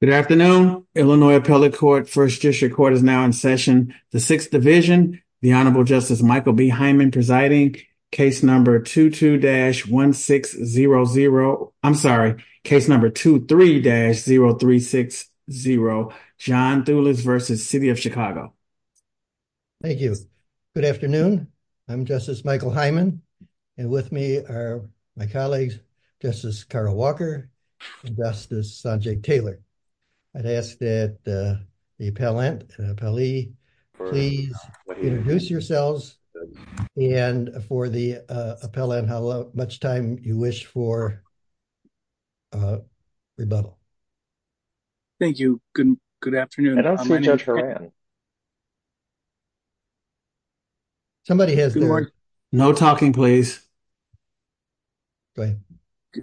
Good afternoon Illinois Appellate Court First District Court is now in session. The Sixth Division, the Honorable Justice Michael B. Hyman presiding, case number 22-1600, I'm sorry, case number 23-0360, John Thulis v. City of Chicago. Thank you. Good afternoon. I'm Justice Michael Hyman and with me are my colleagues, Justice Carl Walker and Justice Sanjay Taylor. I'd ask that the appellant, the appellee, please introduce yourselves and for the appellant how much time you wish for rebuttal. Thank you. Good afternoon. I don't see Judge Horan. No talking please.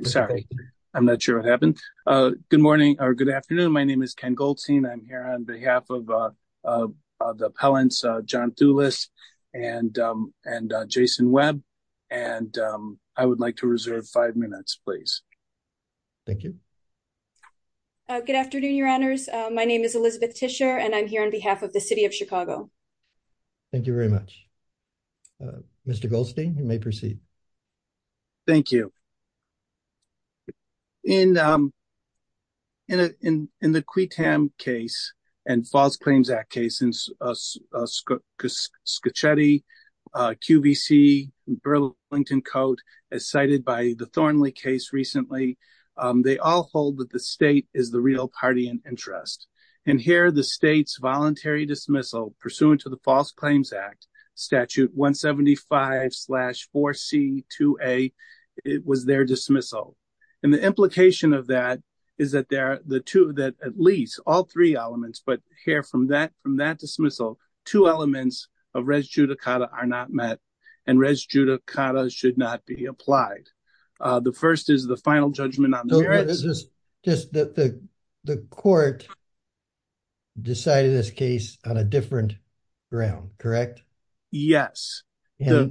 Sorry, I'm not sure what happened. Good morning or good afternoon. My name is Ken Goldstein. I'm here on behalf of the appellants, John Thulis and Jason Webb and I would like to reserve five and I'm here on behalf of the City of Chicago. Thank you very much. Mr. Goldstein, you may proceed. Thank you. In the QUETAM case and False Claims Act cases, Scocchetti, QVC, Burlington Coat, as cited by the Thornley case recently, they all hold that the state is the real party in interest and here the state's voluntary dismissal pursuant to the False Claims Act, Statute 175-4C-2A was their dismissal and the implication of that is that at least all three elements, but here from that dismissal, two elements of res judicata are not met and res judicata should not be applied. The first is the final judgment on the merits. The court decided this case on a different ground, correct? Yes. Go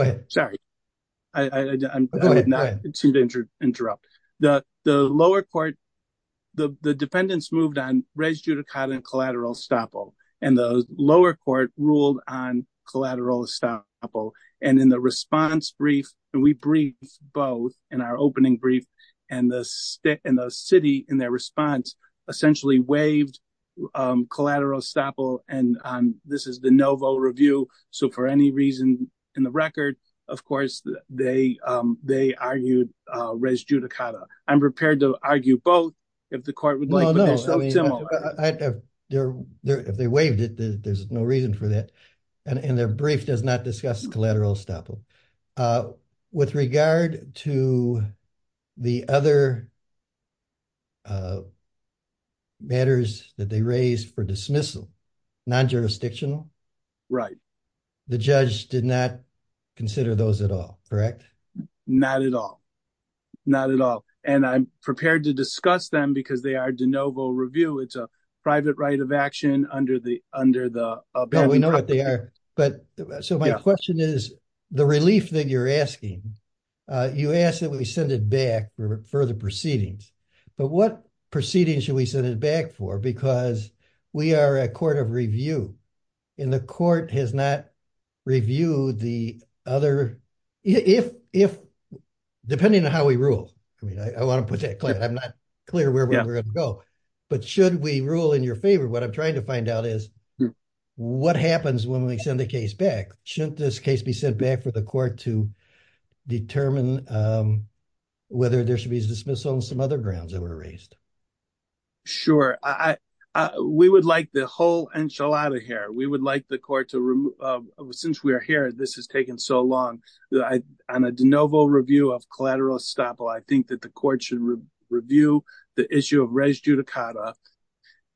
ahead. Sorry, I'm going to interrupt. The lower court, the defendants moved on res judicata and collateral estoppel and the lower court ruled on collateral estoppel and in the response brief, and we briefed both in our opening brief, and the city in their response essentially waived collateral estoppel and this is the no vote review so for any reason in the record, of course, they argued res judicata. I'm prepared to argue both if the court would like. If they waived it, there's no reason for that and their brief does not discuss collateral estoppel. With regard to the other matters that they raised for dismissal, non-jurisdictional? Right. The judge did not consider those at all, correct? Not at all, not at all, and I'm prepared to discuss them because they are de novo review. It's a private right of action under the, under the, we know what they are, but so my question is the relief that you're asking, you ask that we send it back for further proceedings, but what proceedings should we send it back for because we are a court of review and the court has not reviewed the other, if, depending on how we rule, I mean, I want to put that clear. I'm not clear where we're going to go, but should we rule in your favor? What I'm trying to find out is what happens when we send the case back? Shouldn't this case be sent back for the court to determine whether there should be dismissal on some other grounds that were raised? Sure. We would like the whole enchilada here. We would like the court to, since we are here, this has taken so long. On a de novo review of collateral estoppel, I think that the court should review the issue of res judicata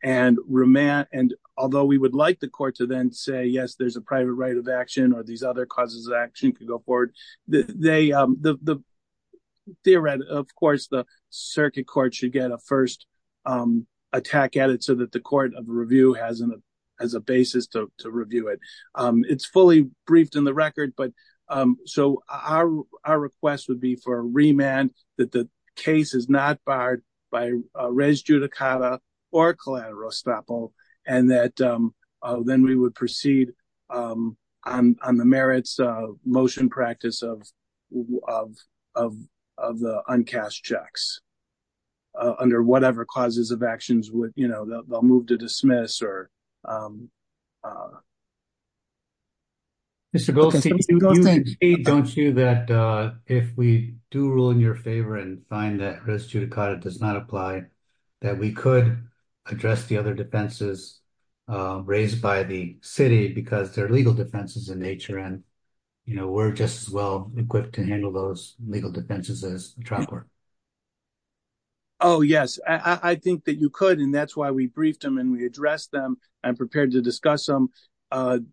and remand, and although we would like the court to then say, yes, there's a private right of action or these other causes of action could go forward. Theoretically, of course, the circuit court should get a first attack at it so that the court of review has a basis to review it. It's fully briefed in the record, but so our request would be for a remand that the case is not barred by res judicata or collateral estoppel, and that then we would proceed on the merits of motion practice of the uncashed checks under whatever causes of actions they'll move to dismiss. Mr. Goldstein, don't you that if we do rule in your favor and find that res judicata does not apply, that we could address the other defenses raised by the city because they're legal defenses in nature and, you know, we're just as well equipped to handle those legal defenses as the trial court? Oh, yes. I think that you could, and that's why we briefed them and we addressed them and prepared to discuss them.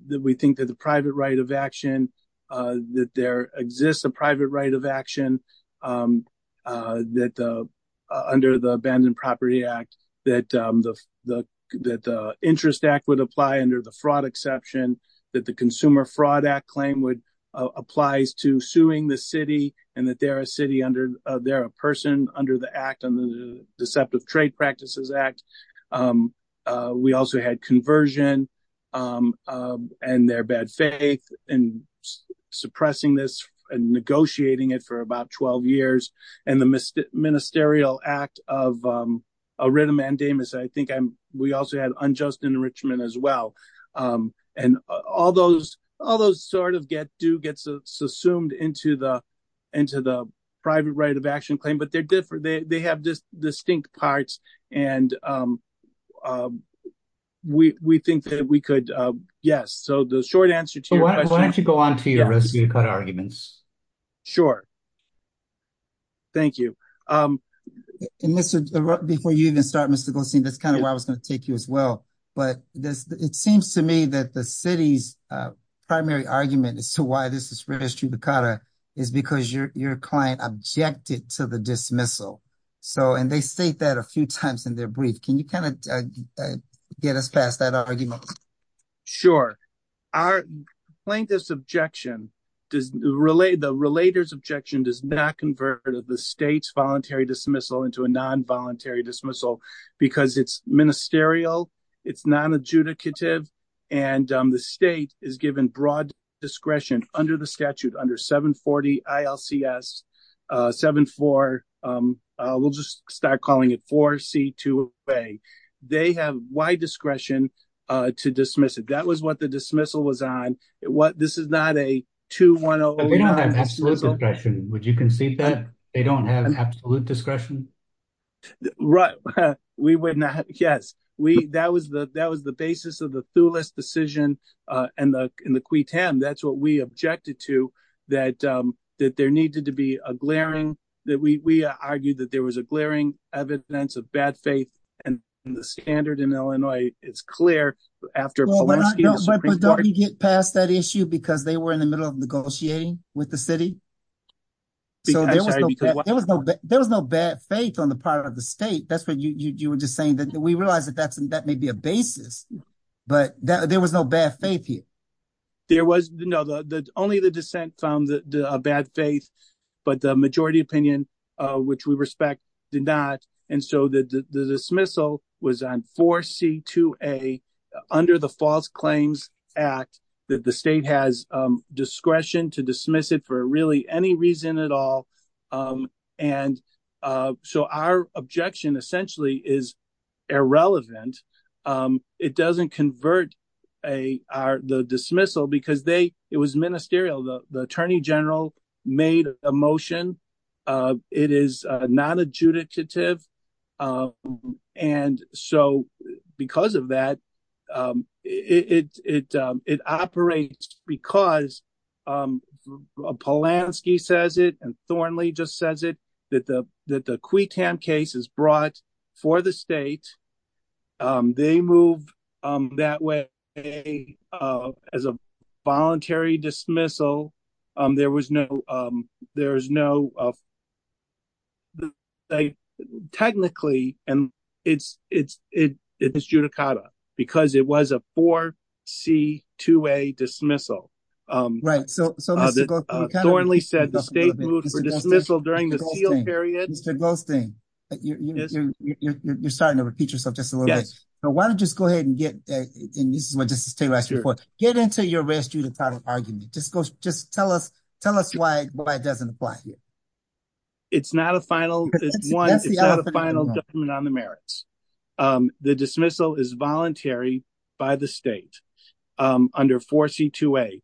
We think that the private right of action, that there exists a ban on property act, that the interest act would apply under the fraud exception, that the consumer fraud act claim applies to suing the city, and that they're a person under the act on the deceptive trade practices act. We also had conversion and their bad faith in suppressing this and negotiating it for about 12 years, and the ministerial act of a writ of mandamus. I think we also had unjust enrichment as well, and all those sort of get do gets assumed into the private right of action claim, but they're different. They have distinct parts, and we think that we could, yes, so the short answer to your question. Why don't you go on to your res judicata arguments? Sure. Thank you. Before you even start, Mr. Goldstein, that's kind of where I was going to take you as well, but it seems to me that the city's primary argument as to why this is registered, the is because your client objected to the dismissal, and they state that a few times in their brief. Can you kind of get us past that argument? Sure. Our plaintiff's objection does relate the relators objection does not convert the state's voluntary dismissal into a non-voluntary dismissal because it's ministerial. It's non-adjudicative, and the state is given broad discretion under the statute under 740 ILCS 74. We'll just start calling it 4 C 2 way. They have wide discretion to dismiss it. That was what the dismissal was on. This is not a 210. We don't have absolute discretion. Would you concede that they don't have absolute discretion? Right. We would not. Yes, we that was the that was the basis of the Thouless decision and the in the quittem. That's what we objected to that that there needed to be a glaring that we argued that there was a glaring evidence of bad faith and the standard in Illinois. It's clear after you get past that issue because they were in the middle of negotiating with the city. There was no bad faith on the part of the state. That's what you you were just saying that we realize that that's that may be a basis but that there was no bad faith here. There was no the only the dissent found that a bad faith but the majority opinion which we respect did not and so the dismissal was on 4 C 2 a under the false claims act that the state has discretion to dismiss it for really any reason at all. And so our objection essentially is irrelevant. It doesn't convert a our the dismissal because they it was ministerial. The attorney general made a motion. It is non-adjudicative and so because of that it it it operates because Polanski says it and Thornley just says it that the that the quittem case is brought for the state. They moved that way as a voluntary dismissal. There was no there's no technically and it's it's it it's judicata because it was a 4 C 2 a dismissal. Right so Thornley said the state moved for dismissal during the seal period. Mr. Goldstein but you're you're you're starting to repeat yourself just a little bit. So why don't you just go ahead and get and this is what Justice Taylor asked before. Get into your res judicata argument. Just go just tell us tell us why why it doesn't apply. It's not a final it's one it's not a final judgment on the merits. The dismissal is voluntary by the state under 4 C 2 a.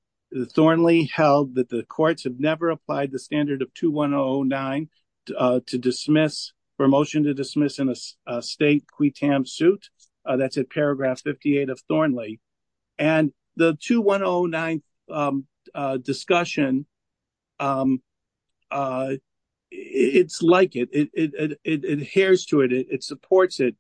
Thornley held that the courts have never applied the standard of 2109 to dismiss for motion to dismiss in a state quittem suit that's at paragraph 58 of Thornley and the 2109 discussion it's like it it it adheres to it it supports it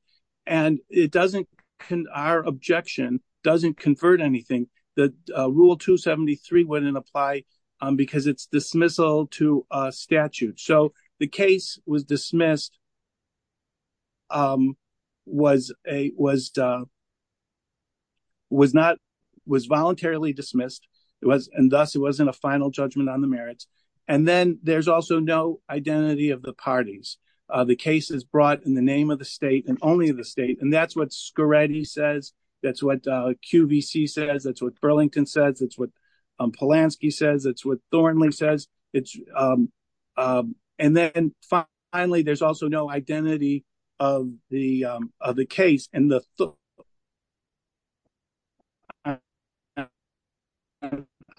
and it doesn't can our objection doesn't convert anything that rule 273 wouldn't apply because it's dismissal to a statute. So the case was dismissed was a was was not was voluntarily dismissed. It was and thus it wasn't a final judgment on the merits and then there's also no identity of the parties. The case is brought in the name of the state and only the state and that's what Scaretti says. That's what QVC says. That's what Burlington says. That's what Polanski says. That's what Thornley says. It's um um and then finally there's also no identity of the um of the case and the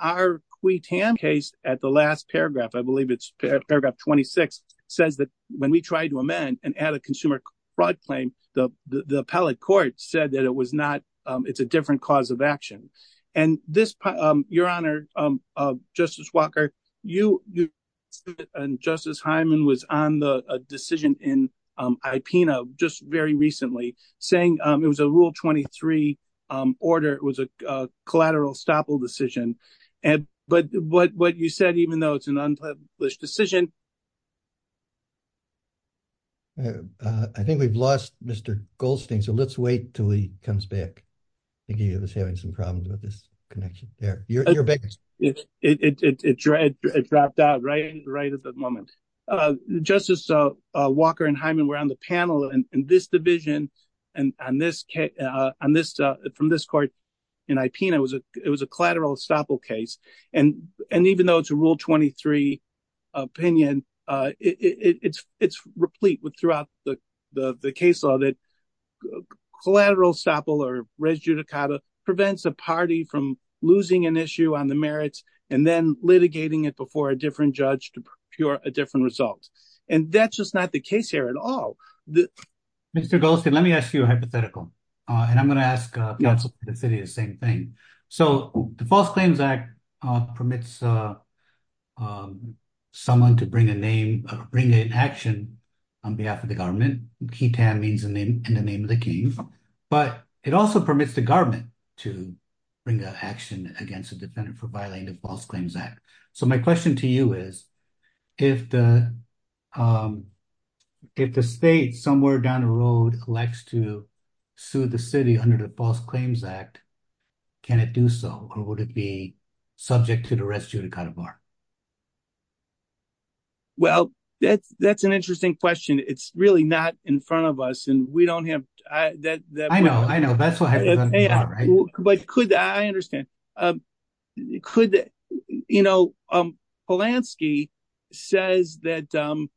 our quittem case at the last paragraph I believe it's paragraph 26 says that when we try to amend and add a consumer fraud claim the the appellate court said that it was not um it's a different cause of action and this um your honor um uh Justice Walker you you and Justice Hyman was on the a decision in um IPNA just very recently saying um it was a rule 23 um order it was a uh collateral stopple decision and but what what you said even though it's an unpublished decision uh I think we've lost Mr. Goldstein so let's wait till he comes back I think he was having some problems with this connection there you're you're back it's it's it's it's right it dropped out right right at the moment uh Justice uh uh Walker and Hyman were on the panel in this division and on this case uh on this uh from this court in IPNA was a it was a collateral stopple case and and even though it's a rule 23 opinion uh it it's it's replete with throughout the the the case law that collateral stopple or res judicata prevents a party from losing an issue on the merits and then litigating it before a different judge to procure a different result and that's just not the case here at all the Mr. Goldstein let me ask you a hypothetical and I'm going to ask uh the city the same thing so the false claims act uh permits uh um someone to bring a name bring an action on behalf of the government ketam means the name in the name of the king but it also permits the government to bring an action against a defendant for violating the false claims act so my question to you is if the um if the state somewhere down the road likes to sue the city under the false claims act can it do so or would it be subject to the rest you to cut a bar well that's that's an interesting question it's really not in front of us and we don't have that I know I know that's what I understand um could you know um Polanski says that um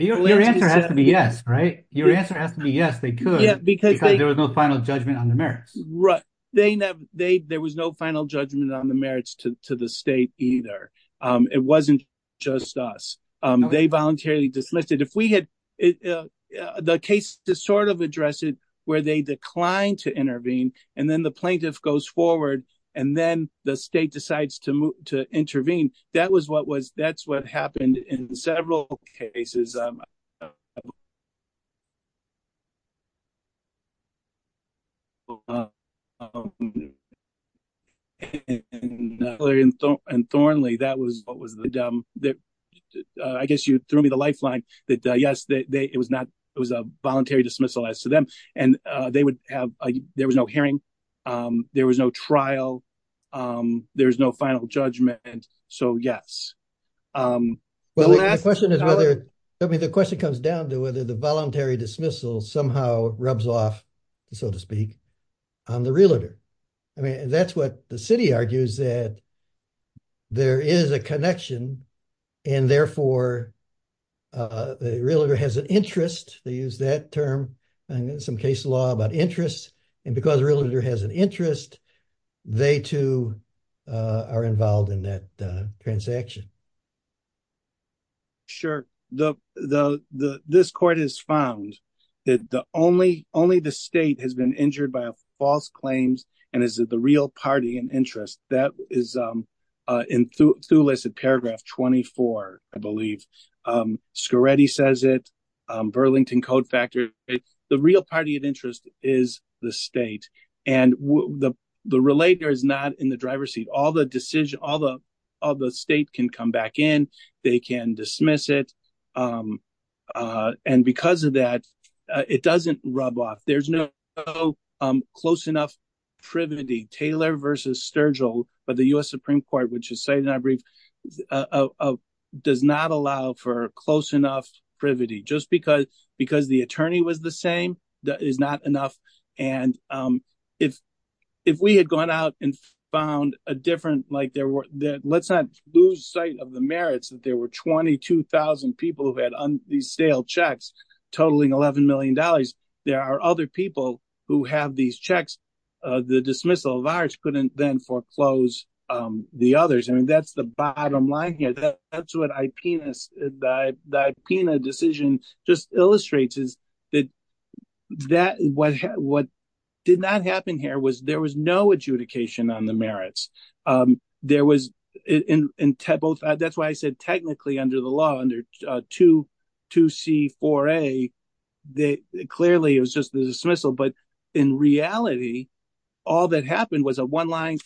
your answer has to be yes right your answer has to be yes they could because there was no final judgment on the merits right they never they there was no final judgment on the merits to to the state either um it wasn't just us um they voluntarily dislisted if we had the case to sort of address it where they declined to intervene and then the plaintiff goes forward and then the state decides to move to intervene that was what was that's what happened in several cases um and Thornley that was what was the um that uh I guess you threw me the lifeline that yes that they it was not it was a voluntary dismissal as to them and uh they would have there was no hearing um there was no trial um there was no final judgment and so yes um well the question is whether I mean the question comes down to whether the voluntary dismissal somehow rubs off so to speak on the realtor I mean that's what the city argues that there is a connection and therefore uh the realtor has an interest they use that term and some case law about interest and because realtor has an interest they too uh are involved in that transaction sure the the the this court has found that the only only the state has been injured by a false claims and is it the real party and interest that is um uh in through through listed paragraph 24 I believe um says it um Burlington code factor the real party of interest is the state and the the relator is not in the driver's seat all the decision all the all the state can come back in they can dismiss it um uh and because of that it doesn't rub off there's no um close enough privity Taylor versus Sturgill but the U.S. Supreme Court which is saying I believe uh does not allow for close enough privity just because because the attorney was the same that is not enough and um if if we had gone out and found a different like there were that let's not lose sight of the merits that there were 22,000 people who had these stale checks totaling 11 million dollars there are other people who have these checks uh the dismissal of ours couldn't then foreclose um the others I mean that's the bottom line here that that's what I penis that that Pena decision just illustrates is that that what what did not happen here was there was no adjudication on the merits um there was in in both that's why I said technically under the law under 22c4a they clearly it was just the dismissal but in reality all that happened was a one-line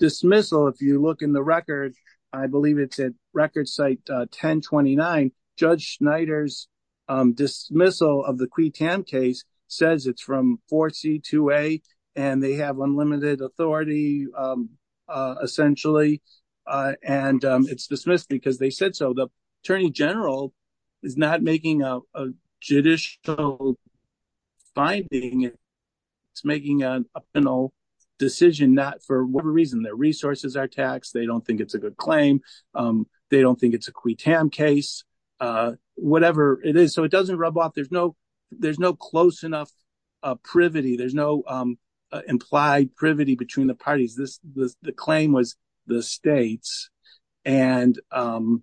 dismissal if you look in the record I believe it's at record site 1029 Judge Schneider's dismissal of the Cui Tam case says it's from 4c2a and they have unlimited authority essentially and it's dismissed because they said so the attorney general is not making a judicial finding it's making a final decision not for whatever reason their resources are taxed they don't think it's a good claim um they don't think it's a Cui Tam case uh whatever it is so it doesn't rub off there's no there's no close enough uh privity there's no um implied privity between the parties this the claim was the states and um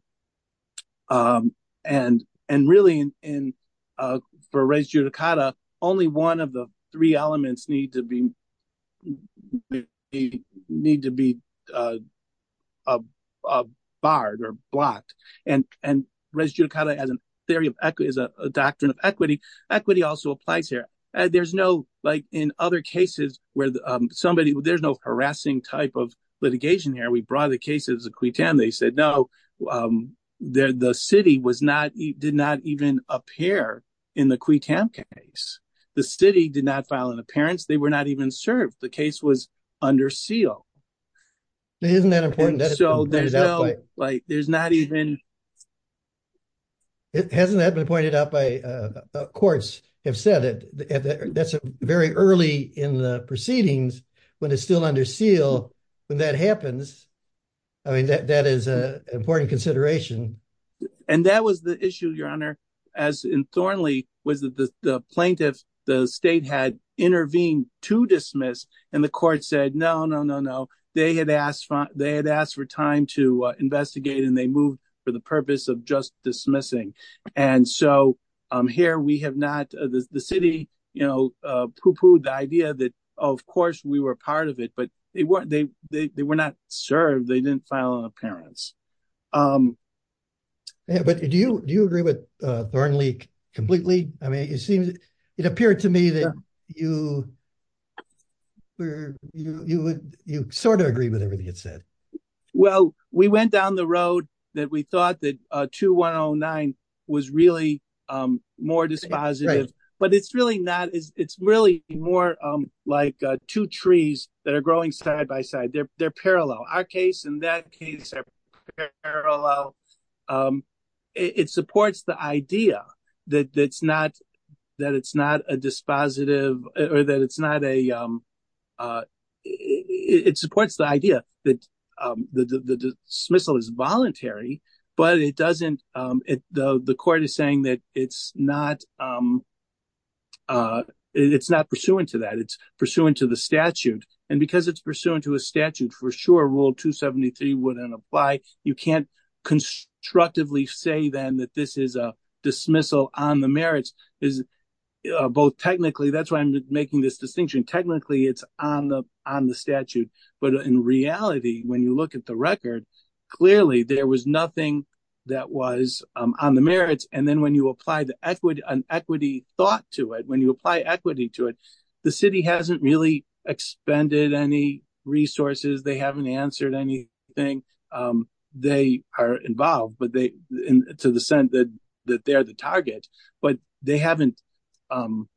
um and and really in uh for res judicata only one of the three elements need to be need to be uh barred or blocked and and res judicata as a theory of equity is a doctrine of equity equity also applies here there's no like in other cases where somebody there's no harassing type of litigation here we brought the cases of Cui Tam they said no um there the city was not did not even appear in the Cui Tam case the city did not file an appearance they were not even served the case was under seal isn't that important so there's no like there's not even a it hasn't that been pointed out by uh courts have said it that's a very early in the proceedings when it's still under seal when that happens i mean that that is a important consideration and that was the issue your honor as in thorny was that the plaintiff the state had intervened to dismiss and the court said no no no no they had asked for they had asked for time to investigate and they moved for the purpose of just dismissing and so um here we have not the city you know uh pooh-poohed the idea that of course we were part of it but they weren't they they were not served they didn't file an appearance um yeah but do you do you agree with uh thorny completely i mean it seems it appeared to me that you were you you would you sort of agree with everything it said well we went down the road that we thought that uh 2109 was really um more dispositive but it's really not it's really more um like uh two trees that are growing side by side they're they're parallel our case in that case are parallel um it supports the idea that that's not that it's not a dispositive or that it's not a um uh it supports the idea that um the the dismissal is voluntary but it doesn't um it the the court is saying that it's not um uh it's not pursuant to that it's pursuant to the statute and because it's pursuant to a statute for sure rule 273 wouldn't apply you can't constructively say then that this is a dismissal on the merits is both technically that's why i'm making this distinction technically it's on the on the statute but in reality when you look at the record clearly there was nothing that was um on the merits and then when you apply the equity and equity thought to it when you apply equity to it the city hasn't really expended any resources they haven't answered anything um they are involved but they in to the sense that that they're the target but they haven't um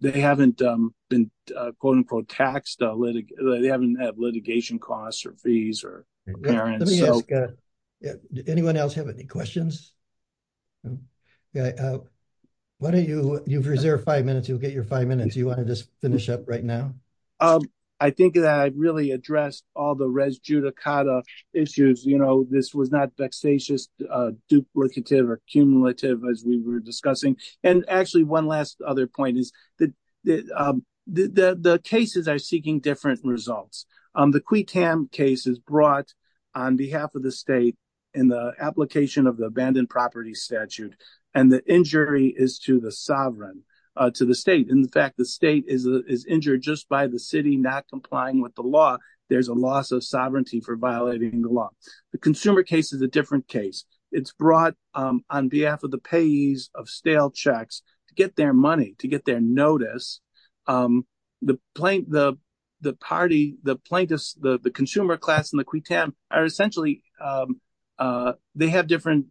they haven't um been uh quote-unquote taxed uh litig they haven't had litigation costs or fees or parents so yeah anyone else have any questions why don't you you've reserved five minutes you'll get your five minutes you want to just finish up um i think that i really addressed all the res judicata issues you know this was not vexatious uh duplicative or cumulative as we were discussing and actually one last other point is that that um the the cases are seeking different results um the qui tam case is brought on behalf of the state in the application of the abandoned property statute and the injury is to the sovereign to the state in fact the state is is injured just by the city not complying with the law there's a loss of sovereignty for violating the law the consumer case is a different case it's brought um on behalf of the payees of stale checks to get their money to get their notice um the plaintiff the party the plaintiffs the the consumer class and the qui tam are essentially um uh they have different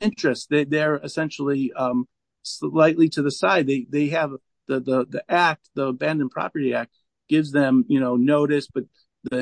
interests they're essentially um slightly to the side they they have the the act the abandoned property act gives them you know notice but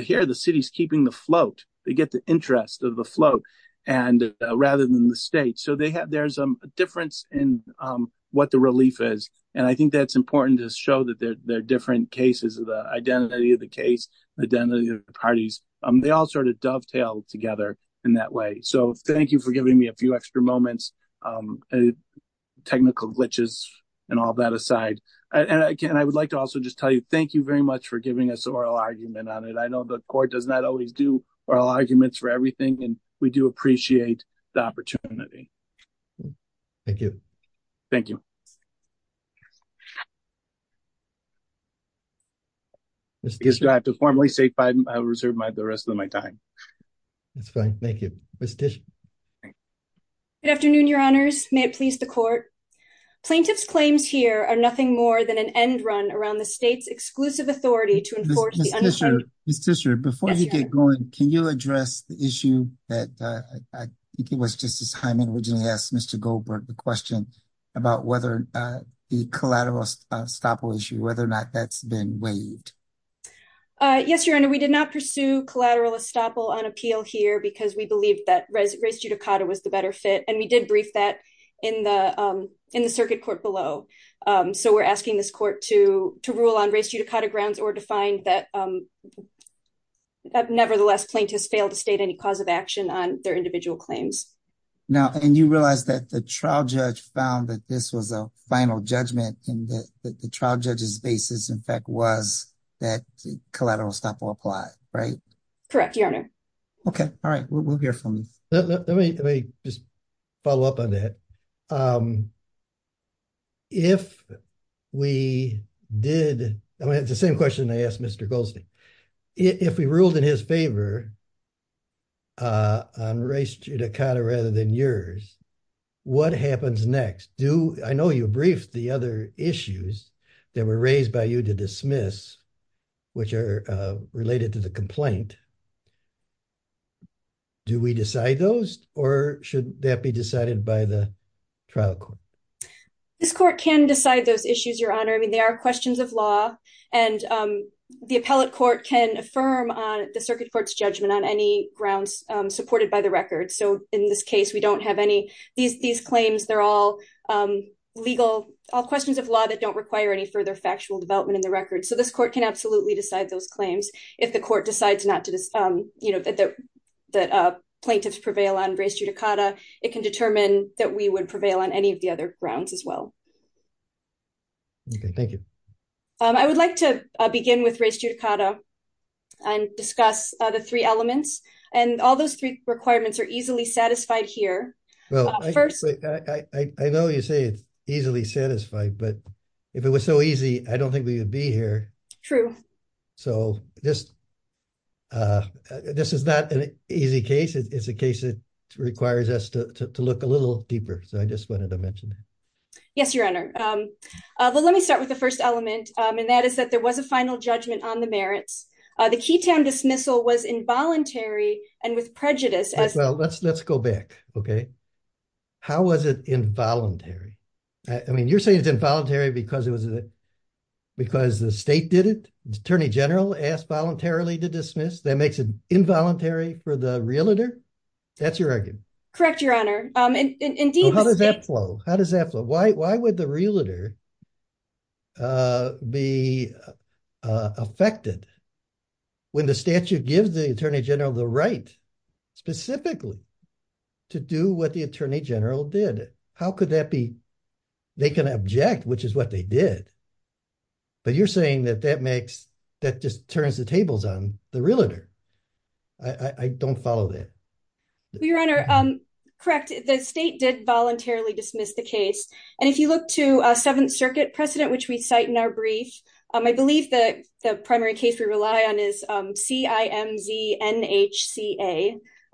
here the city's keeping the float they get the interest of the float and rather than the state so they have there's a difference in um what the relief is and i think that's important to show that they're different cases of the identity of the case identity of the parties um they all sort of dovetail together in that way so thank you for giving me a few extra moments um technical glitches and all that aside and again i would like to also just tell you thank you very much for giving us oral argument on it i know the court does not always do oral arguments for everything and do appreciate the opportunity thank you thank you let's just drive to formally say five i'll reserve my the rest of my time that's fine thank you good afternoon your honors may it please the court plaintiffs claims here are nothing more than an end run around the state's exclusive authority to enforce before you get going can you address the issue that i think it was just as hyman originally asked mr goldberg the question about whether uh the collateral estoppel issue whether or not that's been waived uh yes your honor we did not pursue collateral estoppel on appeal here because we believe that race judicata was the better fit and we did brief that in the um in that um nevertheless plaintiffs failed to state any cause of action on their individual claims now and you realize that the trial judge found that this was a final judgment and that the trial judge's basis in fact was that collateral estoppel applied right correct your honor okay all right we'll hear from me let me just follow up on that um if we did i had the same question i asked mr goldstein if we ruled in his favor uh on race judicata rather than yours what happens next do i know you briefed the other issues that were raised by you to dismiss which are related to the complaint do we decide those or should that be decided by the trial court this court can decide those issues your honor i mean there are questions of law and um the appellate court can affirm on the circuit court's judgment on any grounds um supported by the record so in this case we don't have any these these claims they're all um legal all questions of law that don't require any further factual development in the record so this court can absolutely decide those claims if the court decides not to um you know that the that uh plaintiffs prevail on race it can determine that we would prevail on any of the other grounds as well okay thank you um i would like to begin with race judicata and discuss the three elements and all those three requirements are easily satisfied here well first i i know you say it's easily satisfied but if it was so easy i don't think we would be here true so just uh this is not an requires us to look a little deeper so i just wanted to mention that yes your honor um well let me start with the first element um and that is that there was a final judgment on the merits uh the keytown dismissal was involuntary and with prejudice as well let's let's go back okay how was it involuntary i mean you're saying it's involuntary because it was because the state did it the attorney general asked voluntarily to dismiss that makes it that's your argument correct your honor um and indeed how does that flow how does that flow why why would the realtor uh be uh affected when the statute gives the attorney general the right specifically to do what the attorney general did how could that be they can object which is what they did but you're saying that that makes that just turns the tables on the realtor i i don't follow that your honor um correct the state did voluntarily dismiss the case and if you look to seventh circuit precedent which we cite in our brief um i believe that the primary case we rely on is um c-i-m-z-n-h-c-a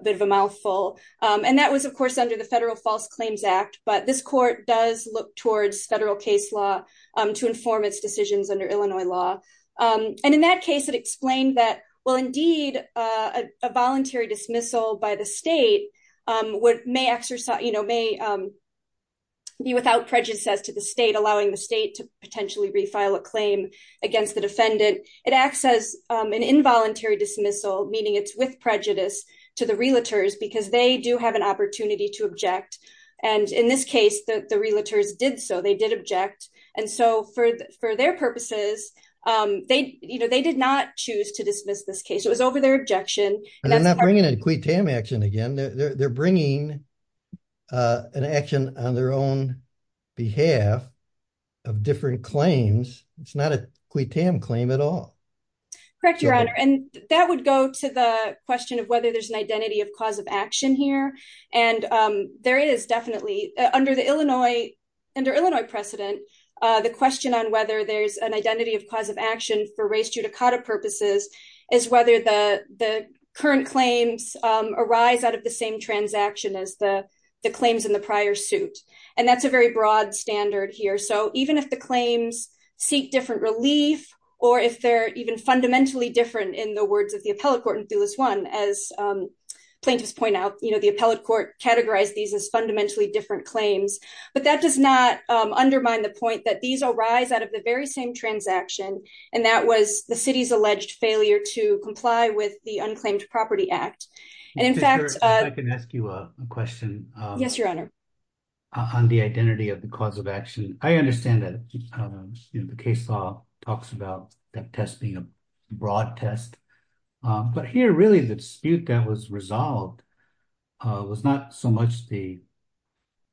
a bit of a mouthful um and that was of course under the federal false claims act but this court does look towards federal case law um to inform its decisions under illinois law um and in that case it explained that well indeed uh a voluntary dismissal by the state um what may exercise you know may um be without prejudice as to the state allowing the state to potentially refile a claim against the defendant it acts as an involuntary dismissal meaning it's with prejudice to the realtors because they do have an opportunity to um they you know they did not choose to dismiss this case it was over their objection and they're not bringing a quid tam action again they're bringing uh an action on their own behalf of different claims it's not a quid tam claim at all correct your honor and that would go to the question of whether there's an identity of cause of action here and um there is definitely under the illinois under illinois precedent uh the question on whether there's an identity of cause of action for race judicata purposes is whether the the current claims um arise out of the same transaction as the the claims in the prior suit and that's a very broad standard here so even if the claims seek different relief or if they're even fundamentally different in the words of the appellate court in thulis one as um plaintiffs point out you know the appellate categorize these as fundamentally different claims but that does not um undermine the point that these arise out of the very same transaction and that was the city's alleged failure to comply with the unclaimed property act and in fact i can ask you a question yes your honor on the identity of the cause of action i understand that um you know the case law talks about that test being a uh was not so much the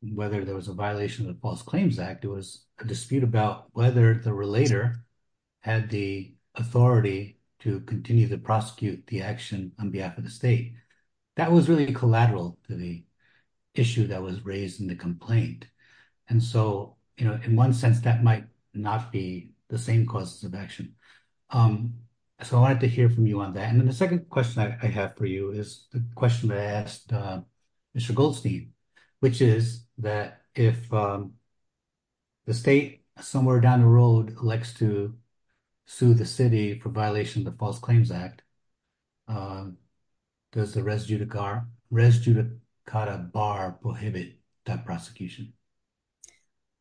whether there was a violation of the false claims act it was a dispute about whether the relator had the authority to continue to prosecute the action on behalf of the state that was really collateral to the issue that was raised in the complaint and so you know in one sense that might not be the same causes of action um so i wanted to hear from you on that and then the second question i have for you is the question that i asked uh mr goldstein which is that if um the state somewhere down the road likes to sue the city for violation of the false claims act uh does the res judicar res judicata bar prohibit that prosecution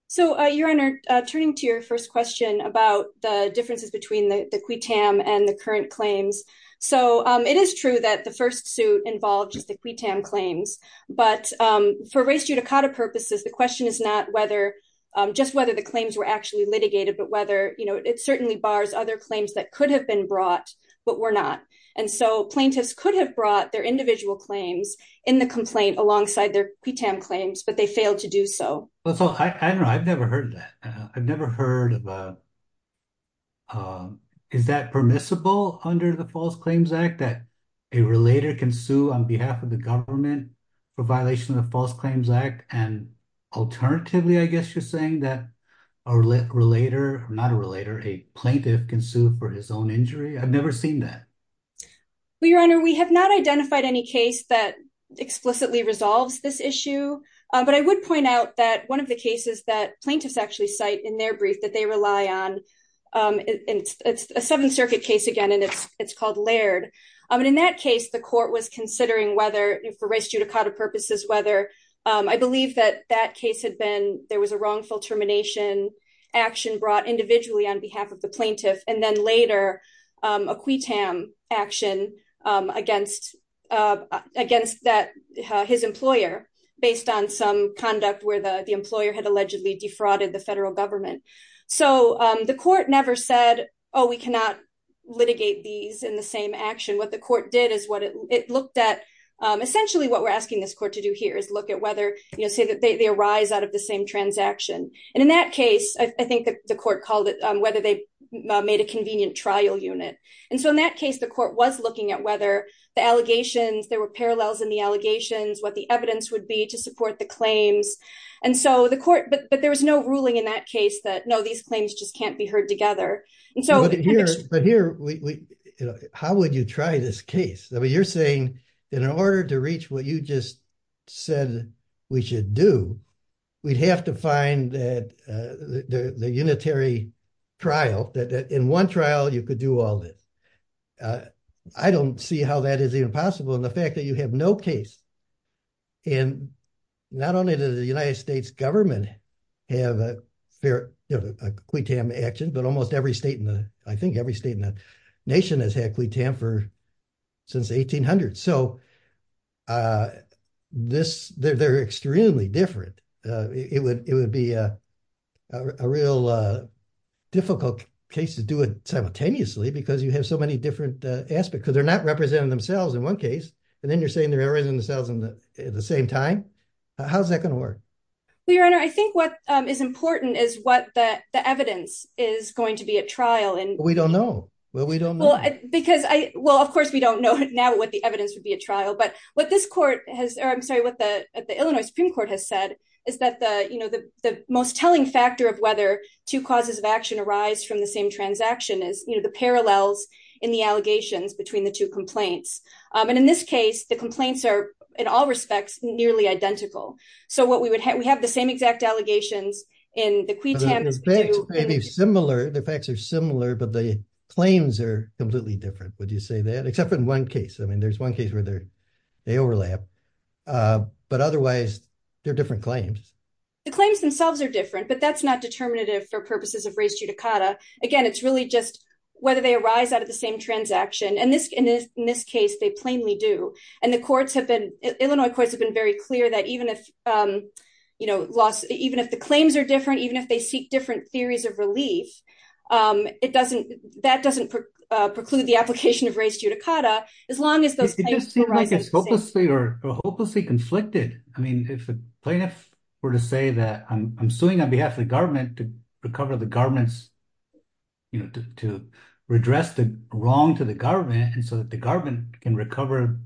so uh your honor uh turning to your first question about the differences between the the quittam and the current claims so um it is true that the first suit involved just the quittam claims but um for res judicata purposes the question is not whether um just whether the claims were actually litigated but whether you know it certainly bars other claims that could have been brought but were not and so plaintiffs could have brought their individual claims in the complaint alongside their quittam claims but they failed to do so i don't know i've never heard that i've never heard about um is that permissible under the false claims act that a relator can sue on behalf of the government for violation of the false claims act and alternatively i guess you're saying that a relator not a relator a plaintiff can sue for his own injury i've never seen that well your honor we have not identified any case that explicitly resolves this issue but i would point out that one of the cases that plaintiffs actually cite in their brief that they rely on um it's it's a seventh circuit case again and it's it's called laird um and in that case the court was considering whether for res judicata purposes whether um i believe that that case had been there was a wrongful termination action brought individually on behalf of the plaintiff and then later um a quittam action um against uh against that his employer based on some conduct where the the employer had allegedly defrauded the federal government so um the court never said oh we cannot litigate these in the same action what the court did is what it looked at um essentially what we're asking this court to do here is look at whether you know say that they arise out of the same transaction and in that case i think that the court was considering whether they made a convenient trial unit and so in that case the court was looking at whether the allegations there were parallels in the allegations what the evidence would be to support the claims and so the court but but there was no ruling in that case that no these claims just can't be heard together and so but here but here we you know how would you try this case i mean you're saying in order to reach what you just said we should do we'd have to find that uh the the unitary trial that in one trial you could do all this i don't see how that is even possible and the fact that you have no case and not only does the united states government have a fair you know a quittam action but almost every state in the i think every state in the nation has had quittam for since 1800 so uh this they're extremely different uh it would it would be uh a real uh difficult case to do it simultaneously because you have so many different uh aspects because they're not representing themselves in one case and then you're saying they're arousing themselves in the at the same time how's that going to work well your honor i think what um is important is what the the evidence is going to be at trial and we don't know well we don't know because i well of course we don't know now what the evidence would be a trial but what this court has or i'm sorry what the illinois supreme court has said is that the you know the the most telling factor of whether two causes of action arise from the same transaction is you know the parallels in the allegations between the two complaints um and in this case the complaints are in all respects nearly identical so what we would have we have the same exact allegations in the quittam similar the facts are similar but the claims are completely different would you say that except in one case i mean there's one case where they're they overlap uh but otherwise they're different claims the claims themselves are different but that's not determinative for purposes of race judicata again it's really just whether they arise out of the same transaction and this in this case they plainly do and the courts have been illinois courts have been very clear that even if um you know loss even if the claims are different even if they seek different theories of relief um it doesn't that doesn't preclude the application of race judicata as long as those things seem like it's hopelessly or hopelessly conflicted i mean if the plaintiff were to say that i'm suing on behalf of the government to recover the garments you know to redress the wrong to the government and so that the garment can recover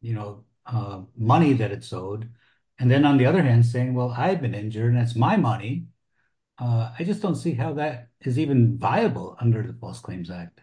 you know uh money that it's owed and then on the other hand saying well i've been injured and it's my money uh i just don't see how that is even viable under the false claims act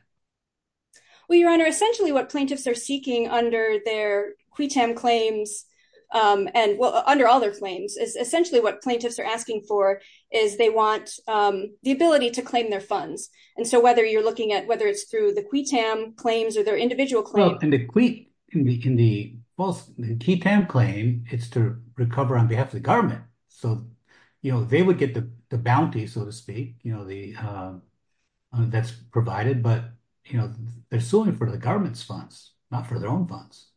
well your honor essentially what plaintiffs are seeking under their quitam claims um and well under all their claims is essentially what plaintiffs are asking for is they want um the ability to claim their funds and so whether you're looking at whether it's through the quitam claims or their individual claims in the quit in the in the false ketamine claim it's to recover on behalf of the government so you know they would get the bounty so to speak you know the um that's provided but you know they're suing for the government's funds not for their own funds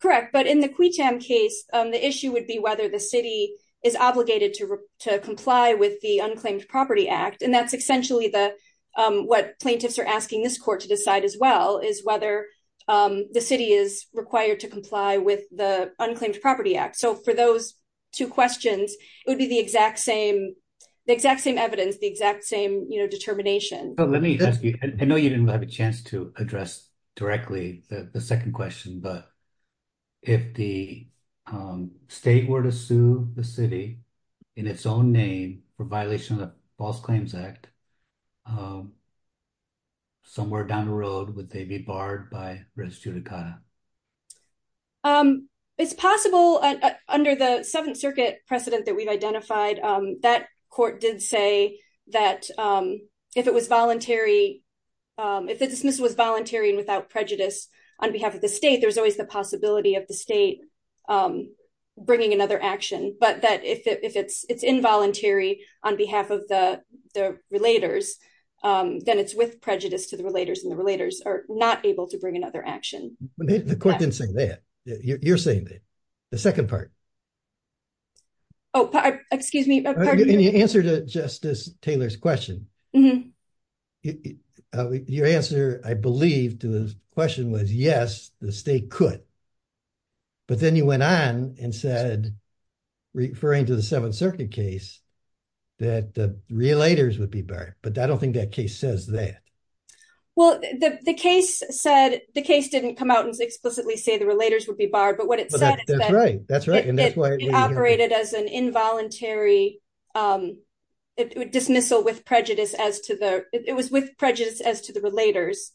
correct but in the quitam case um the issue would be whether the city is obligated to to comply with the unclaimed property act and that's essentially the um what plaintiffs are asking this court to decide as well is whether um the city is required to comply with the unclaimed property act so for those two questions it would be the exact same the exact same evidence the exact same you know determination let me ask you i know you didn't have a chance to address directly the second question but if the um state were to sue the city in its own name for violation of the false claims um somewhere down the road would they be barred by res judicata um it's possible under the seventh circuit precedent that we've identified um that court did say that um if it was voluntary um if the dismissal was voluntary and without prejudice on behalf of the state there's always the possibility of the state um bringing another action but that if it if it's involuntary on behalf of the the relators um then it's with prejudice to the relators and the relators are not able to bring another action the court didn't say that you're saying that the second part oh excuse me any answer to justice taylor's question your answer i believe to the question was yes the state could but then you went on and said referring to the seventh circuit case that the relators would be barred but i don't think that case says that well the the case said the case didn't come out and explicitly say the relators would be barred but what it said that's right that's right and that's why it operated as an involuntary um dismissal with prejudice as to the it was with prejudice as to the relators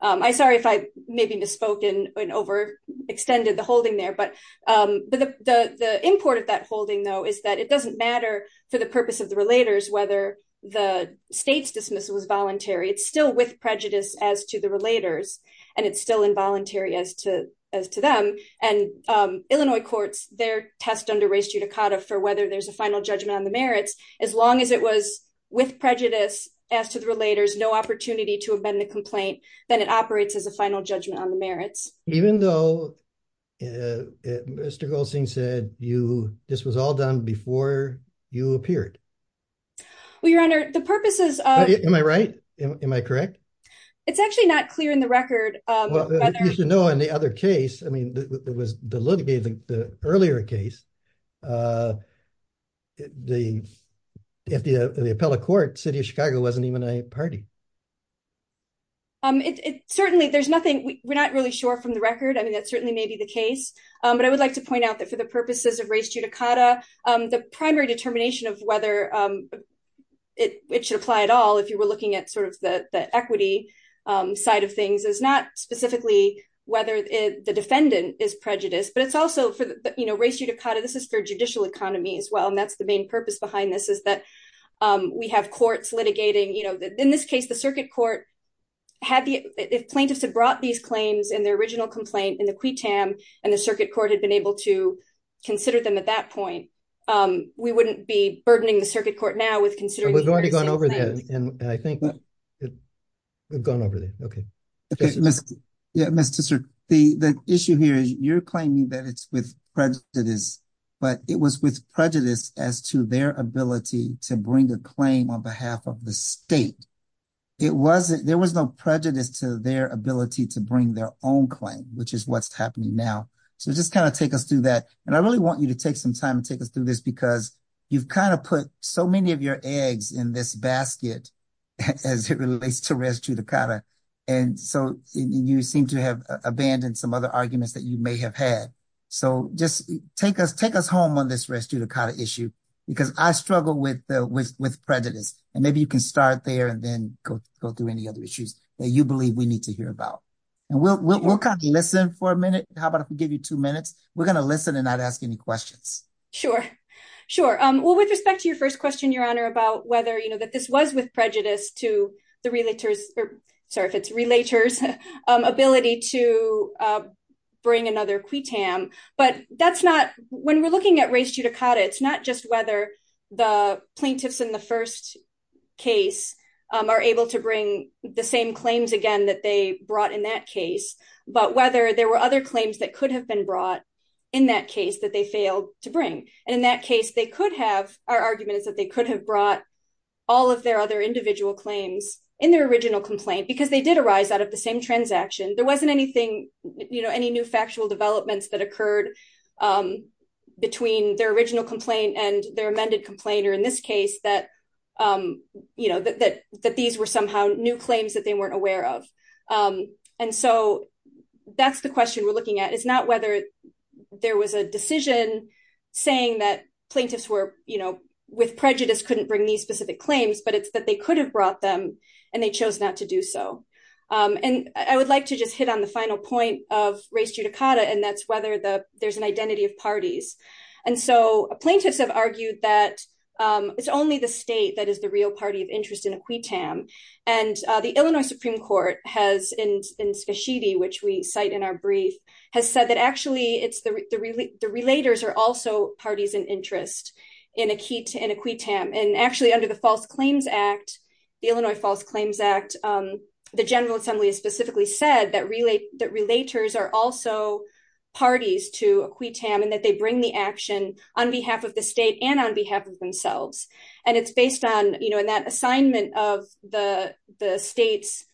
um i sorry if i maybe misspoken and over extended the holding there but um but the the the import of that holding though is that it doesn't matter for the purpose of the relators whether the state's dismissal was voluntary it's still with prejudice as to the relators and it's still involuntary as to as to them and um illinois courts their test under race judicata for whether there's a final judgment on the merits as long as it was with prejudice as to the relators no opportunity to the complaint then it operates as a final judgment on the merits even though mr goldstein said you this was all done before you appeared well your honor the purposes of am i right am i correct it's actually not clear in the record um you should know in the other case i mean it was the litigating the earlier case uh the if the the appellate court city of chicago wasn't even a party um it certainly there's nothing we're not really sure from the record i mean that certainly may be the case um but i would like to point out that for the purposes of race judicata um the primary determination of whether um it it should apply at all if you were looking at sort of the the equity um side of things is not specifically whether the defendant is prejudiced but it's also for the you know race judicata this is for judicial economy as well and the main purpose behind this is that um we have courts litigating you know in this case the circuit court had the if plaintiffs had brought these claims in their original complaint in the quittam and the circuit court had been able to consider them at that point um we wouldn't be burdening the circuit court now with considering we've already gone over there and i think we've gone over there okay okay yeah mr sir the the issue here is you're claiming that it's with prejudice but it was with prejudice as to their ability to bring a claim on behalf of the state it wasn't there was no prejudice to their ability to bring their own claim which is what's happening now so just kind of take us through that and i really want you to take some time to take us through this because you've kind of put so many of your eggs in this basket as it relates to res judicata and so you seem to have abandoned some other arguments that you may have had so just take us take us home on this res judicata issue because i struggle with the with prejudice and maybe you can start there and then go go through any other issues that you believe we need to hear about and we'll we'll kind of listen for a minute how about if we give you two minutes we're going to listen and not ask any questions sure sure um well with respect to your first question your honor about whether you know that this was with prejudice to the relators or sorry it's relators ability to bring another quittam but that's not when we're looking at res judicata it's not just whether the plaintiffs in the first case are able to bring the same claims again that they brought in that case but whether there were other claims that could have been brought in that case that they failed to bring and in that case they could have our argument is that they could have brought all of their other individual claims in their original complaint because they did arise out of the same transaction there wasn't anything you know any new factual developments that occurred um between their original complaint and their amended complainer in this case that um you know that that these were somehow new claims that they weren't aware of um and so that's the question we're looking at it's not whether there was a decision saying that plaintiffs were you know with prejudice couldn't bring these specific claims but it's that they could have brought them and they chose not to do so um and i would like to just hit on the final point of res judicata and that's whether the there's an identity of parties and so plaintiffs have argued that um it's only the state that is the real party of interest in a quittam and uh the illinois supreme court has in in spashidi which we cite in our brief has said that actually it's the the relators are also parties in interest in a key to in a quittam and actually under the false claims act the illinois false claims act um the general assembly has specifically said that relate that relators are also parties to a quittam and that they bring the action on behalf of the state and on behalf of themselves and it's based on you know in that assignment of the the state's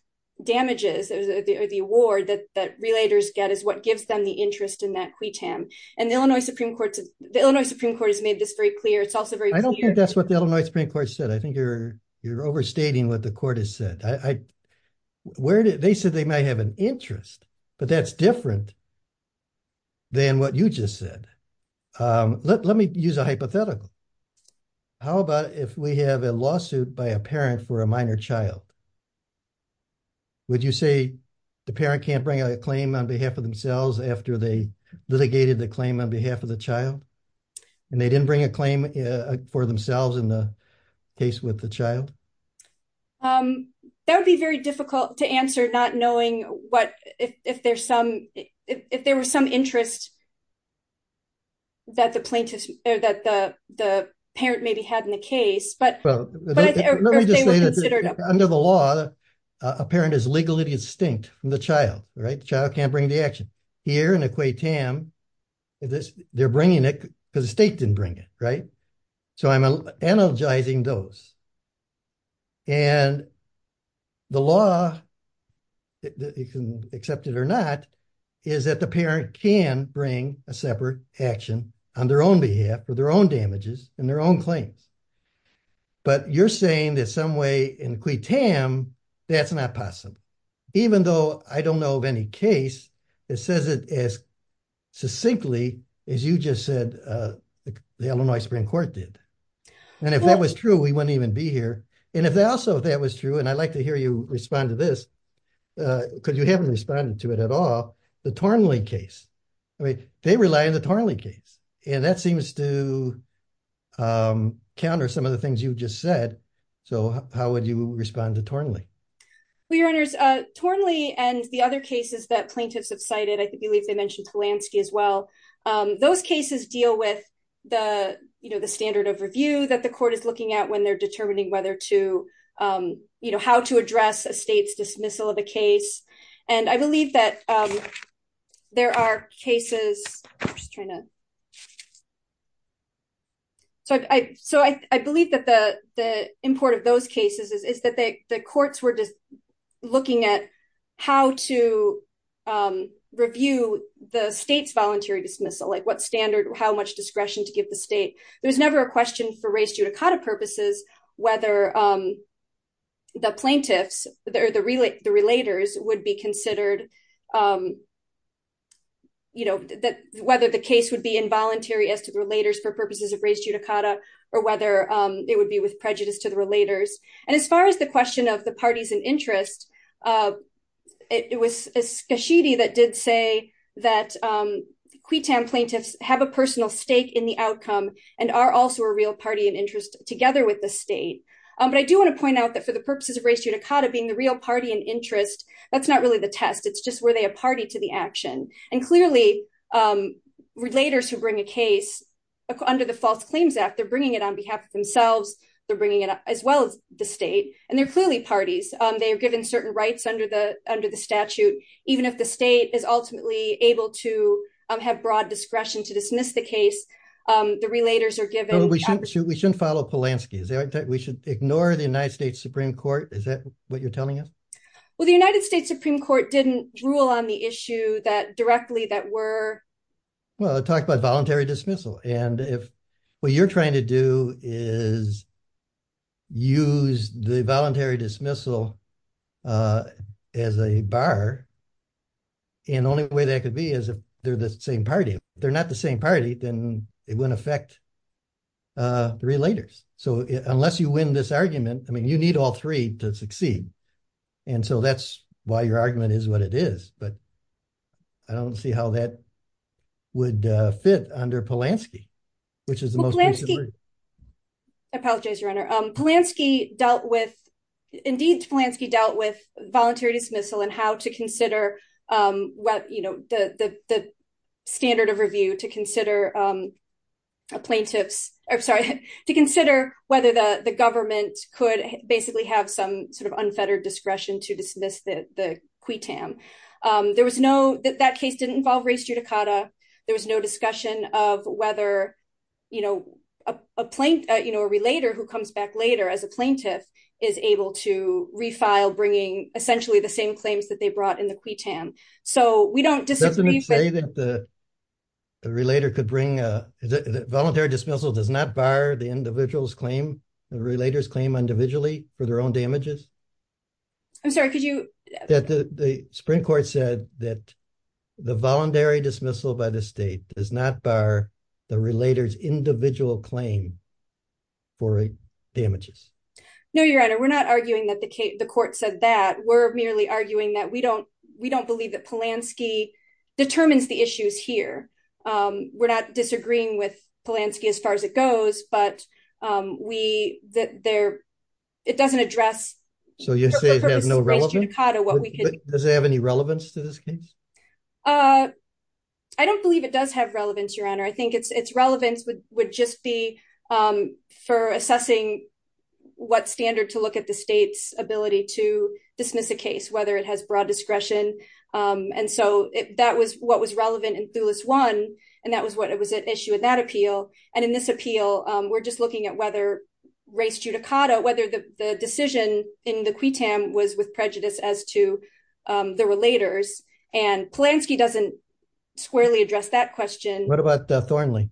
damages or the award that that relators get is what gives them the interest in that quittam and the illinois supreme court the illinois supreme court has made this very clear i don't think that's what the illinois supreme court said i think you're you're overstating what the court has said i i where did they said they might have an interest but that's different than what you just said um let me use a hypothetical how about if we have a lawsuit by a parent for a minor child would you say the parent can't bring a claim on behalf of themselves after they litigated the claim on behalf of the child and they didn't bring a claim for themselves in the case with the child um that would be very difficult to answer not knowing what if there's some if there was some interest that the plaintiff or that the the parent maybe had in the case but under the law a parent is legally distinct from the child right the child can't bring the action here in a quittam this they're bringing it because the state didn't bring it right so i'm energizing those and the law that you can accept it or not is that the parent can bring a separate action on their own behalf for their own damages and their own claims but you're saying that some way in quittam that's not possible even though i don't know of any case that says it as succinctly as you just said uh the illinois supreme court did and if that was true we wouldn't even be here and if that also that was true and i'd like to hear you respond to this uh because you haven't responded to it at all the tornley case i mean they rely on the tornley case and that seems to um counter some of the things you just said so how would you respond to tornley well your honors uh tornley and the other cases that plaintiffs have cited i believe they mentioned polanski as well um those cases deal with the you know the standard of review that the court is looking at when they're determining whether to um you know how to address a state's dismissal of a case and i believe that um there are cases i'm just trying to so i so i i believe that the the import of those cases is that they the courts were just looking at how to um review the state's voluntary dismissal like what standard how much discretion to give the state there's never a question for race judicata purposes whether um the plaintiffs or the relay the relators would be considered um you know that whether the case would be involuntary as to the relators for purposes of race judicata or whether um it would be with prejudice to the relators and as far as the question of the parties and interest uh it was a sheedy that did say that um quitan plaintiffs have a personal stake in the outcome and are also a real party and interest together with the state um but i do want to point out that for the purposes of race judicata being the real party interest that's not really the test it's just were they a party to the action and clearly um relators who bring a case under the false claims act they're bringing it on behalf of themselves they're bringing it up as well as the state and they're clearly parties um they are given certain rights under the under the statute even if the state is ultimately able to um have broad discretion to dismiss the case um the relators are given we shouldn't we shouldn't follow polanski is that we should ignore the united states supreme court is that what you're telling us well the united states supreme court didn't rule on the issue that directly that were well i talked about voluntary dismissal and if what you're trying to do is use the voluntary dismissal uh as a bar and only way that could be is if they're the same party they're not the same party then it wouldn't affect uh the relators so unless you win this argument i mean you need all three to succeed and so that's why your argument is what it is but i don't see how that would uh fit under polanski which is the most i apologize your honor um polanski dealt with indeed polanski dealt with voluntary dismissal and how to consider um what you know the the standard of review to consider um plaintiffs i'm sorry to consider whether the government could basically have some sort of unfettered discretion to dismiss the the qui tam um there was no that that case didn't involve race judicata there was no discussion of whether you know a plaint you know a relator who comes back later as a plaintiff is able to refile bringing essentially the same claims that they brought in the qui tam so we don't disagree that the relator could bring a voluntary dismissal does not bar the individual's claim the relators claim individually for their own damages i'm sorry could you that the the sprint court said that the voluntary dismissal by the state does not bar the relators individual claim for damages no your honor we're not arguing that the case the court said that we're merely arguing that we don't we don't believe that polanski determines the issues here um we're not disagreeing with polanski as far as it goes but um we that there it doesn't address so you say it has no relevance does it have any relevance to this case uh i don't believe it does have relevance your honor i think it's its relevance would would just be um for assessing what standard to look at the state's ability to dismiss a case whether it has broad discretion um and so that was what was relevant in thulis one and that was what it was an issue in that appeal and in this appeal um we're just looking at whether race judicata whether the the decision in the qui tam was with prejudice as to um the relators and polanski doesn't squarely address that question what about thorny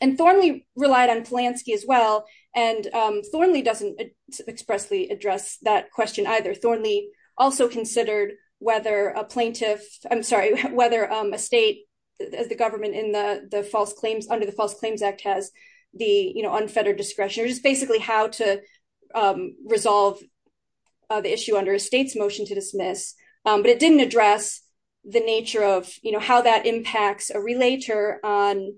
and thorny relied on polanski as well and um thorny doesn't expressly address that question either thorny also considered whether a plaintiff i'm sorry whether um a state as the government in the the false claims under the false claims act has the you know unfettered discretion or just basically how to um resolve the issue under a state's motion to dismiss um but it didn't address the nature of you know how that impacts a relator on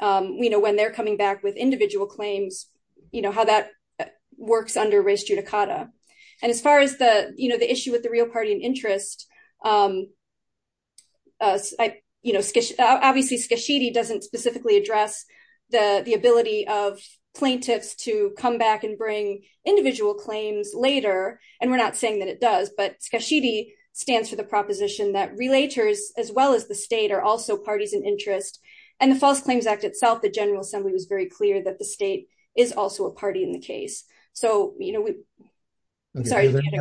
um you know when they're coming back with individual claims you know how that works under race judicata and as far as the you know the issue with the real party and interest um uh you know obviously skashidi doesn't specifically address the the ability of plaintiffs to come back and bring individual claims later and we're not saying that it does but skashidi stands for the proposition that relators as well as the state are also parties in interest and the false claims act itself the general assembly was very clear that the state is also a party in the case so you know we sorry any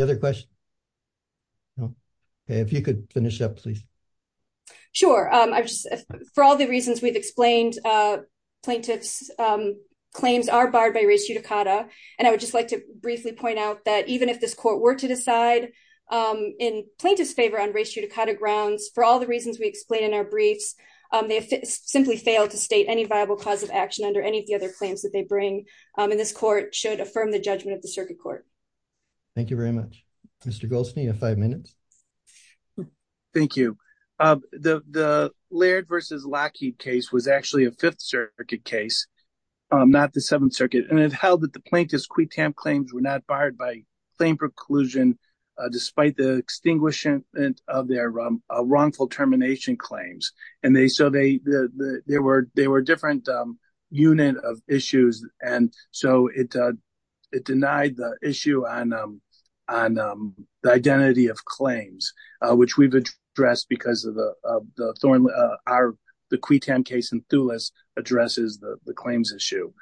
other question no okay if you could finish up please sure um i just for all the reasons we've explained uh plaintiffs um claims are barred by race judicata and i would just like to briefly point out that even if this court were to decide um in plaintiff's favor on race judicata grounds for all the reasons we explain in our briefs um they simply fail to state any viable cause of action under any of the other claims that they bring um and this court should affirm the judgment of the circuit court thank you very much mr golson you have five minutes thank you uh the the laird versus lockheed case was actually a fifth circuit case um not the seventh circuit and it held that the plaintiff's quitamp claims were not barred by claim preclusion despite the extinguishing of their wrongful termination claims and they so they they were they were different um unit of issues and so it uh it denied the issue on um on um the identity of claims uh which we've addressed because of the of the thorn uh our the quitam case in thulis addresses the the claims issue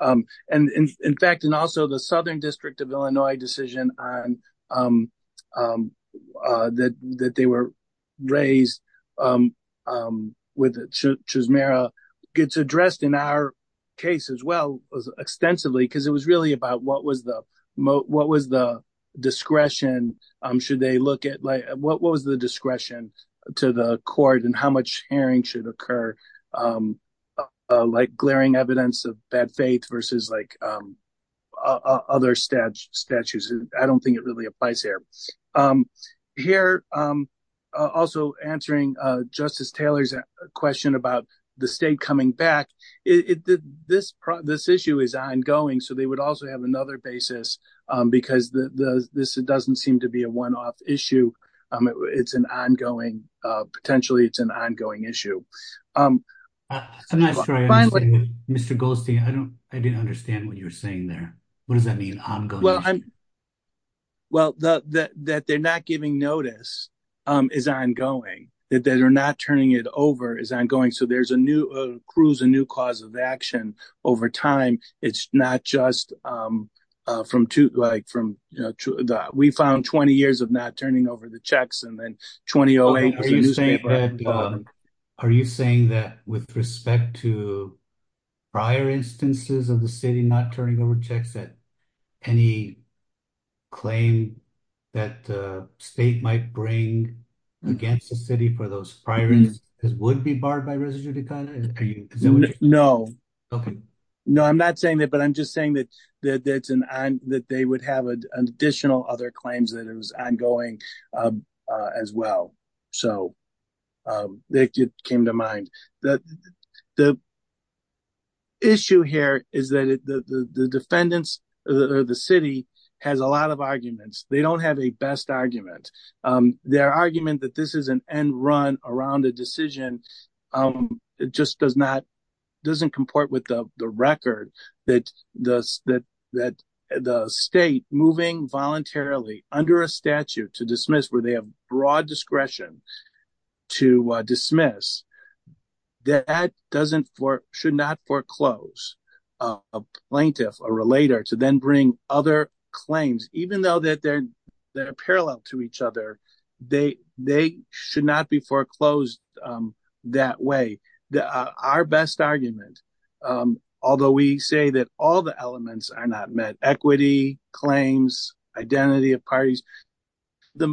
um and in in fact and also the southern district of illinois decision on um um uh that that they were raised um um with chisholmera gets addressed in our case as well was extensively because it was really about what was the what was the discretion um should they look at like what was the discretion to the court and how much hearing should occur um uh like glaring evidence of bad faith versus like um other statues i don't think it really applies here um here um also answering uh justice taylor's question about the state coming back it this this issue is ongoing so they would also have another basis um because the the this doesn't seem to be a one-off issue um it's an ongoing uh potentially it's an ongoing issue um that's a nice story finally mr ghosty i don't i didn't understand what you were saying there what does that mean well i'm well the that they're not giving notice um is ongoing that they're not turning it over is ongoing so there's a new cruise a new cause of action over time it's not just um uh from two like from you know we found 20 years of not turning over the checks and then 2008 are you saying are you saying that with respect to prior instances of the city not turning over checks that any claim that uh state might bring against the city for those priorities because would be barred by residue decliner no okay no i'm not saying that but i'm just saying that that that's an i'm that they would have an additional other claims that it was ongoing uh as well so um that came to mind that the issue here is that the the defendants or the city has a lot of arguments they don't have a best argument um their argument that this is an end run around a decision um it just does not doesn't comport with the the record that the that that the state moving voluntarily under a statute to dismiss where they have broad discretion to uh dismiss that doesn't for should not foreclose a plaintiff a relator to then bring other claims even though that they're they're parallel to each other they they should not be foreclosed um that way the our best argument um although we say that all the elements are not met equity claims identity of parties the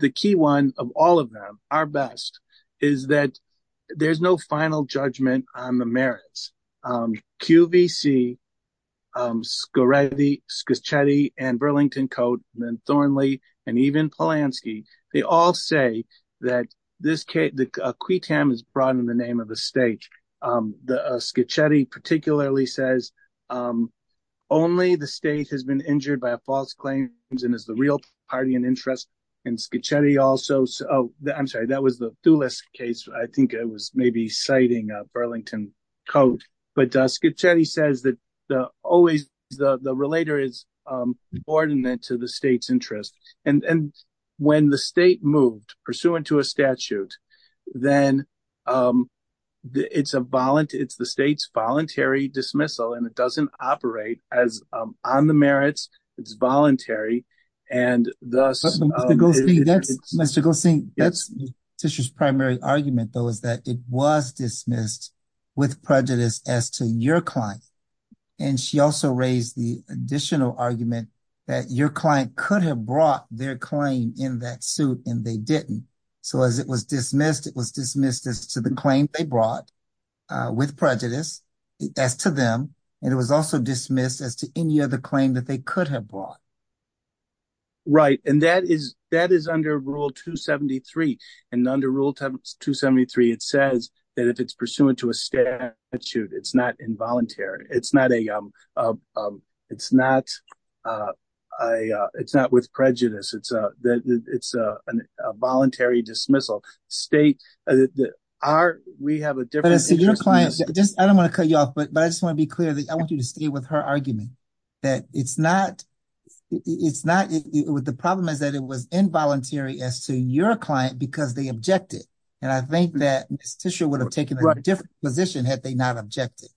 the key one of all of them our best is that there's no final judgment on the merits um qvc um scurredi scuscetti and burlington coat and then thornley and even polanski they all say that this case the qui tam is brought in the name of the state um the uh schizoid particularly says um only the state has been injured by a false claims and is the real party and interest in schizoid also so i'm sorry that was the thulis case i think it was maybe citing uh burlington coat but uh schizoid says that the always the relator is um ordinate to the state's interest and and when the state moved pursuant to a statute then um it's a volunteer it's the state's voluntary dismissal and it doesn't operate as um on the merits it's voluntary and thus mr go sing that's tissue's primary argument though that it was dismissed with prejudice as to your client and she also raised the additional argument that your client could have brought their claim in that suit and they didn't so as it was dismissed it was dismissed as to the claim they brought uh with prejudice as to them and it was also dismissed as to any other claim that they could have brought right and that is that is under rule 273 and under rule 273 it says that if it's pursuant to a statute it's not involuntary it's not a um um it's not uh i uh it's not with prejudice it's a that it's a a voluntary dismissal state are we have a difference so your client just i don't want to cut you off but but i just want to be clear that i want you to stay with her argument that it's not it's not with the problem is that it was involuntary as to your client because they objected and i think that this tissue would have taken a different position had they not objected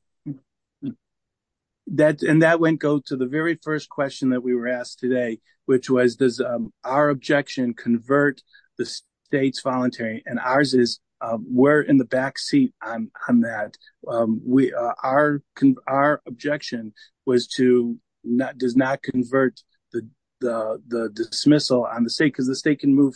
that and that wouldn't go to the very first question that we were asked today which was does um our objection convert the state's voluntary and ours is um we're in the back seat on on that um we uh our our objection was to not does not convert the the the dismissal on the state because the state can move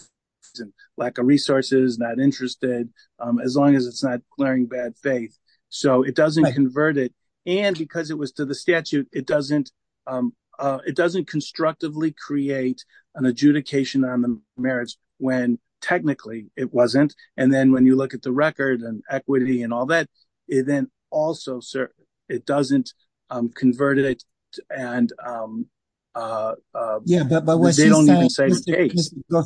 and lack of resources not interested um as long as it's not glaring bad faith so it doesn't convert it and because it was to the statute it doesn't um uh it doesn't constructively create an adjudication on the marriage when technically it wasn't and then when you look at the record and equity and all that it then also sir it doesn't um convert it and um uh yeah but but what they don't even say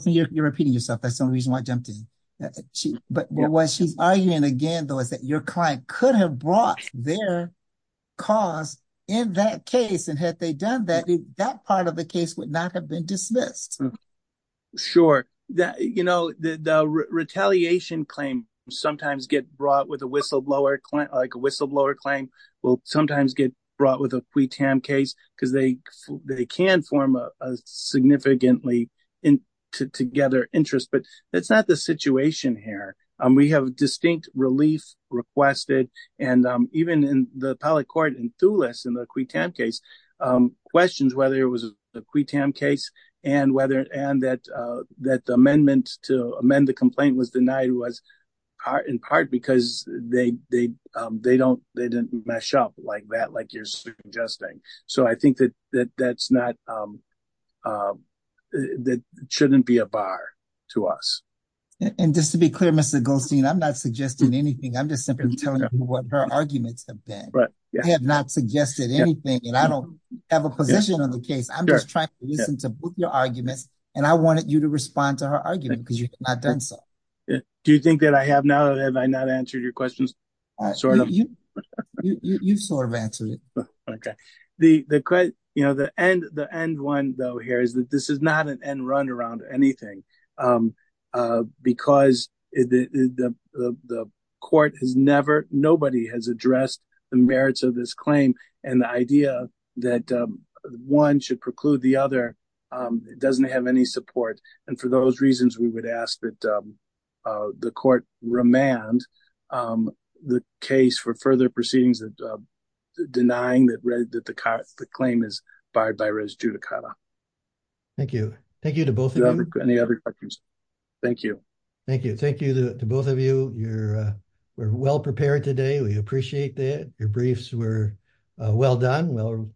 you're repeating yourself that's the only reason why i jumped in she but what she's arguing again though is that your client could have brought their cause in that case and had they done that that part of the case would not have been dismissed sure that you know the the retaliation claim sometimes get brought with a whistleblower client like a whistleblower claim will sometimes get brought with a qui tam case because they they can form a significantly in together interest but that's not the situation here um we have distinct relief requested and um even in the appellate court and thulis in the qui tam case um questions whether it was a qui tam case and and that uh that the amendment to amend the complaint was denied was in part because they they um they don't they didn't mesh up like that like you're suggesting so i think that that that's not um uh that shouldn't be a bar to us and just to be clear mr goldstein i'm not suggesting anything i'm just simply telling you what her arguments have been right i have not suggested anything and i don't have a position on the case i'm just trying to put your arguments and i wanted you to respond to her argument because you've not done so do you think that i have now have i not answered your questions i sort of you you you've sort of answered it okay the the you know the end the end one though here is that this is not an end run around anything um uh because the the the court has never nobody has addressed the merits of this claim and the idea that one should preclude the other um it doesn't have any support and for those reasons we would ask that um uh the court remand um the case for further proceedings that uh denying that read that the car the claim is barred by res judicata thank you thank you to both of you any other questions thank you thank you thank you to both of you you're we're well prepared today we appreciate that your briefs were well done well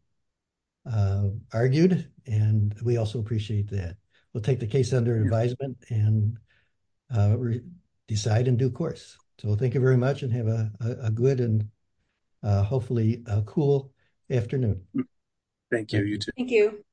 argued and we also appreciate that we'll take the case under advisement and decide in due course so thank you very much and have a good and hopefully a cool afternoon thank you you too thank you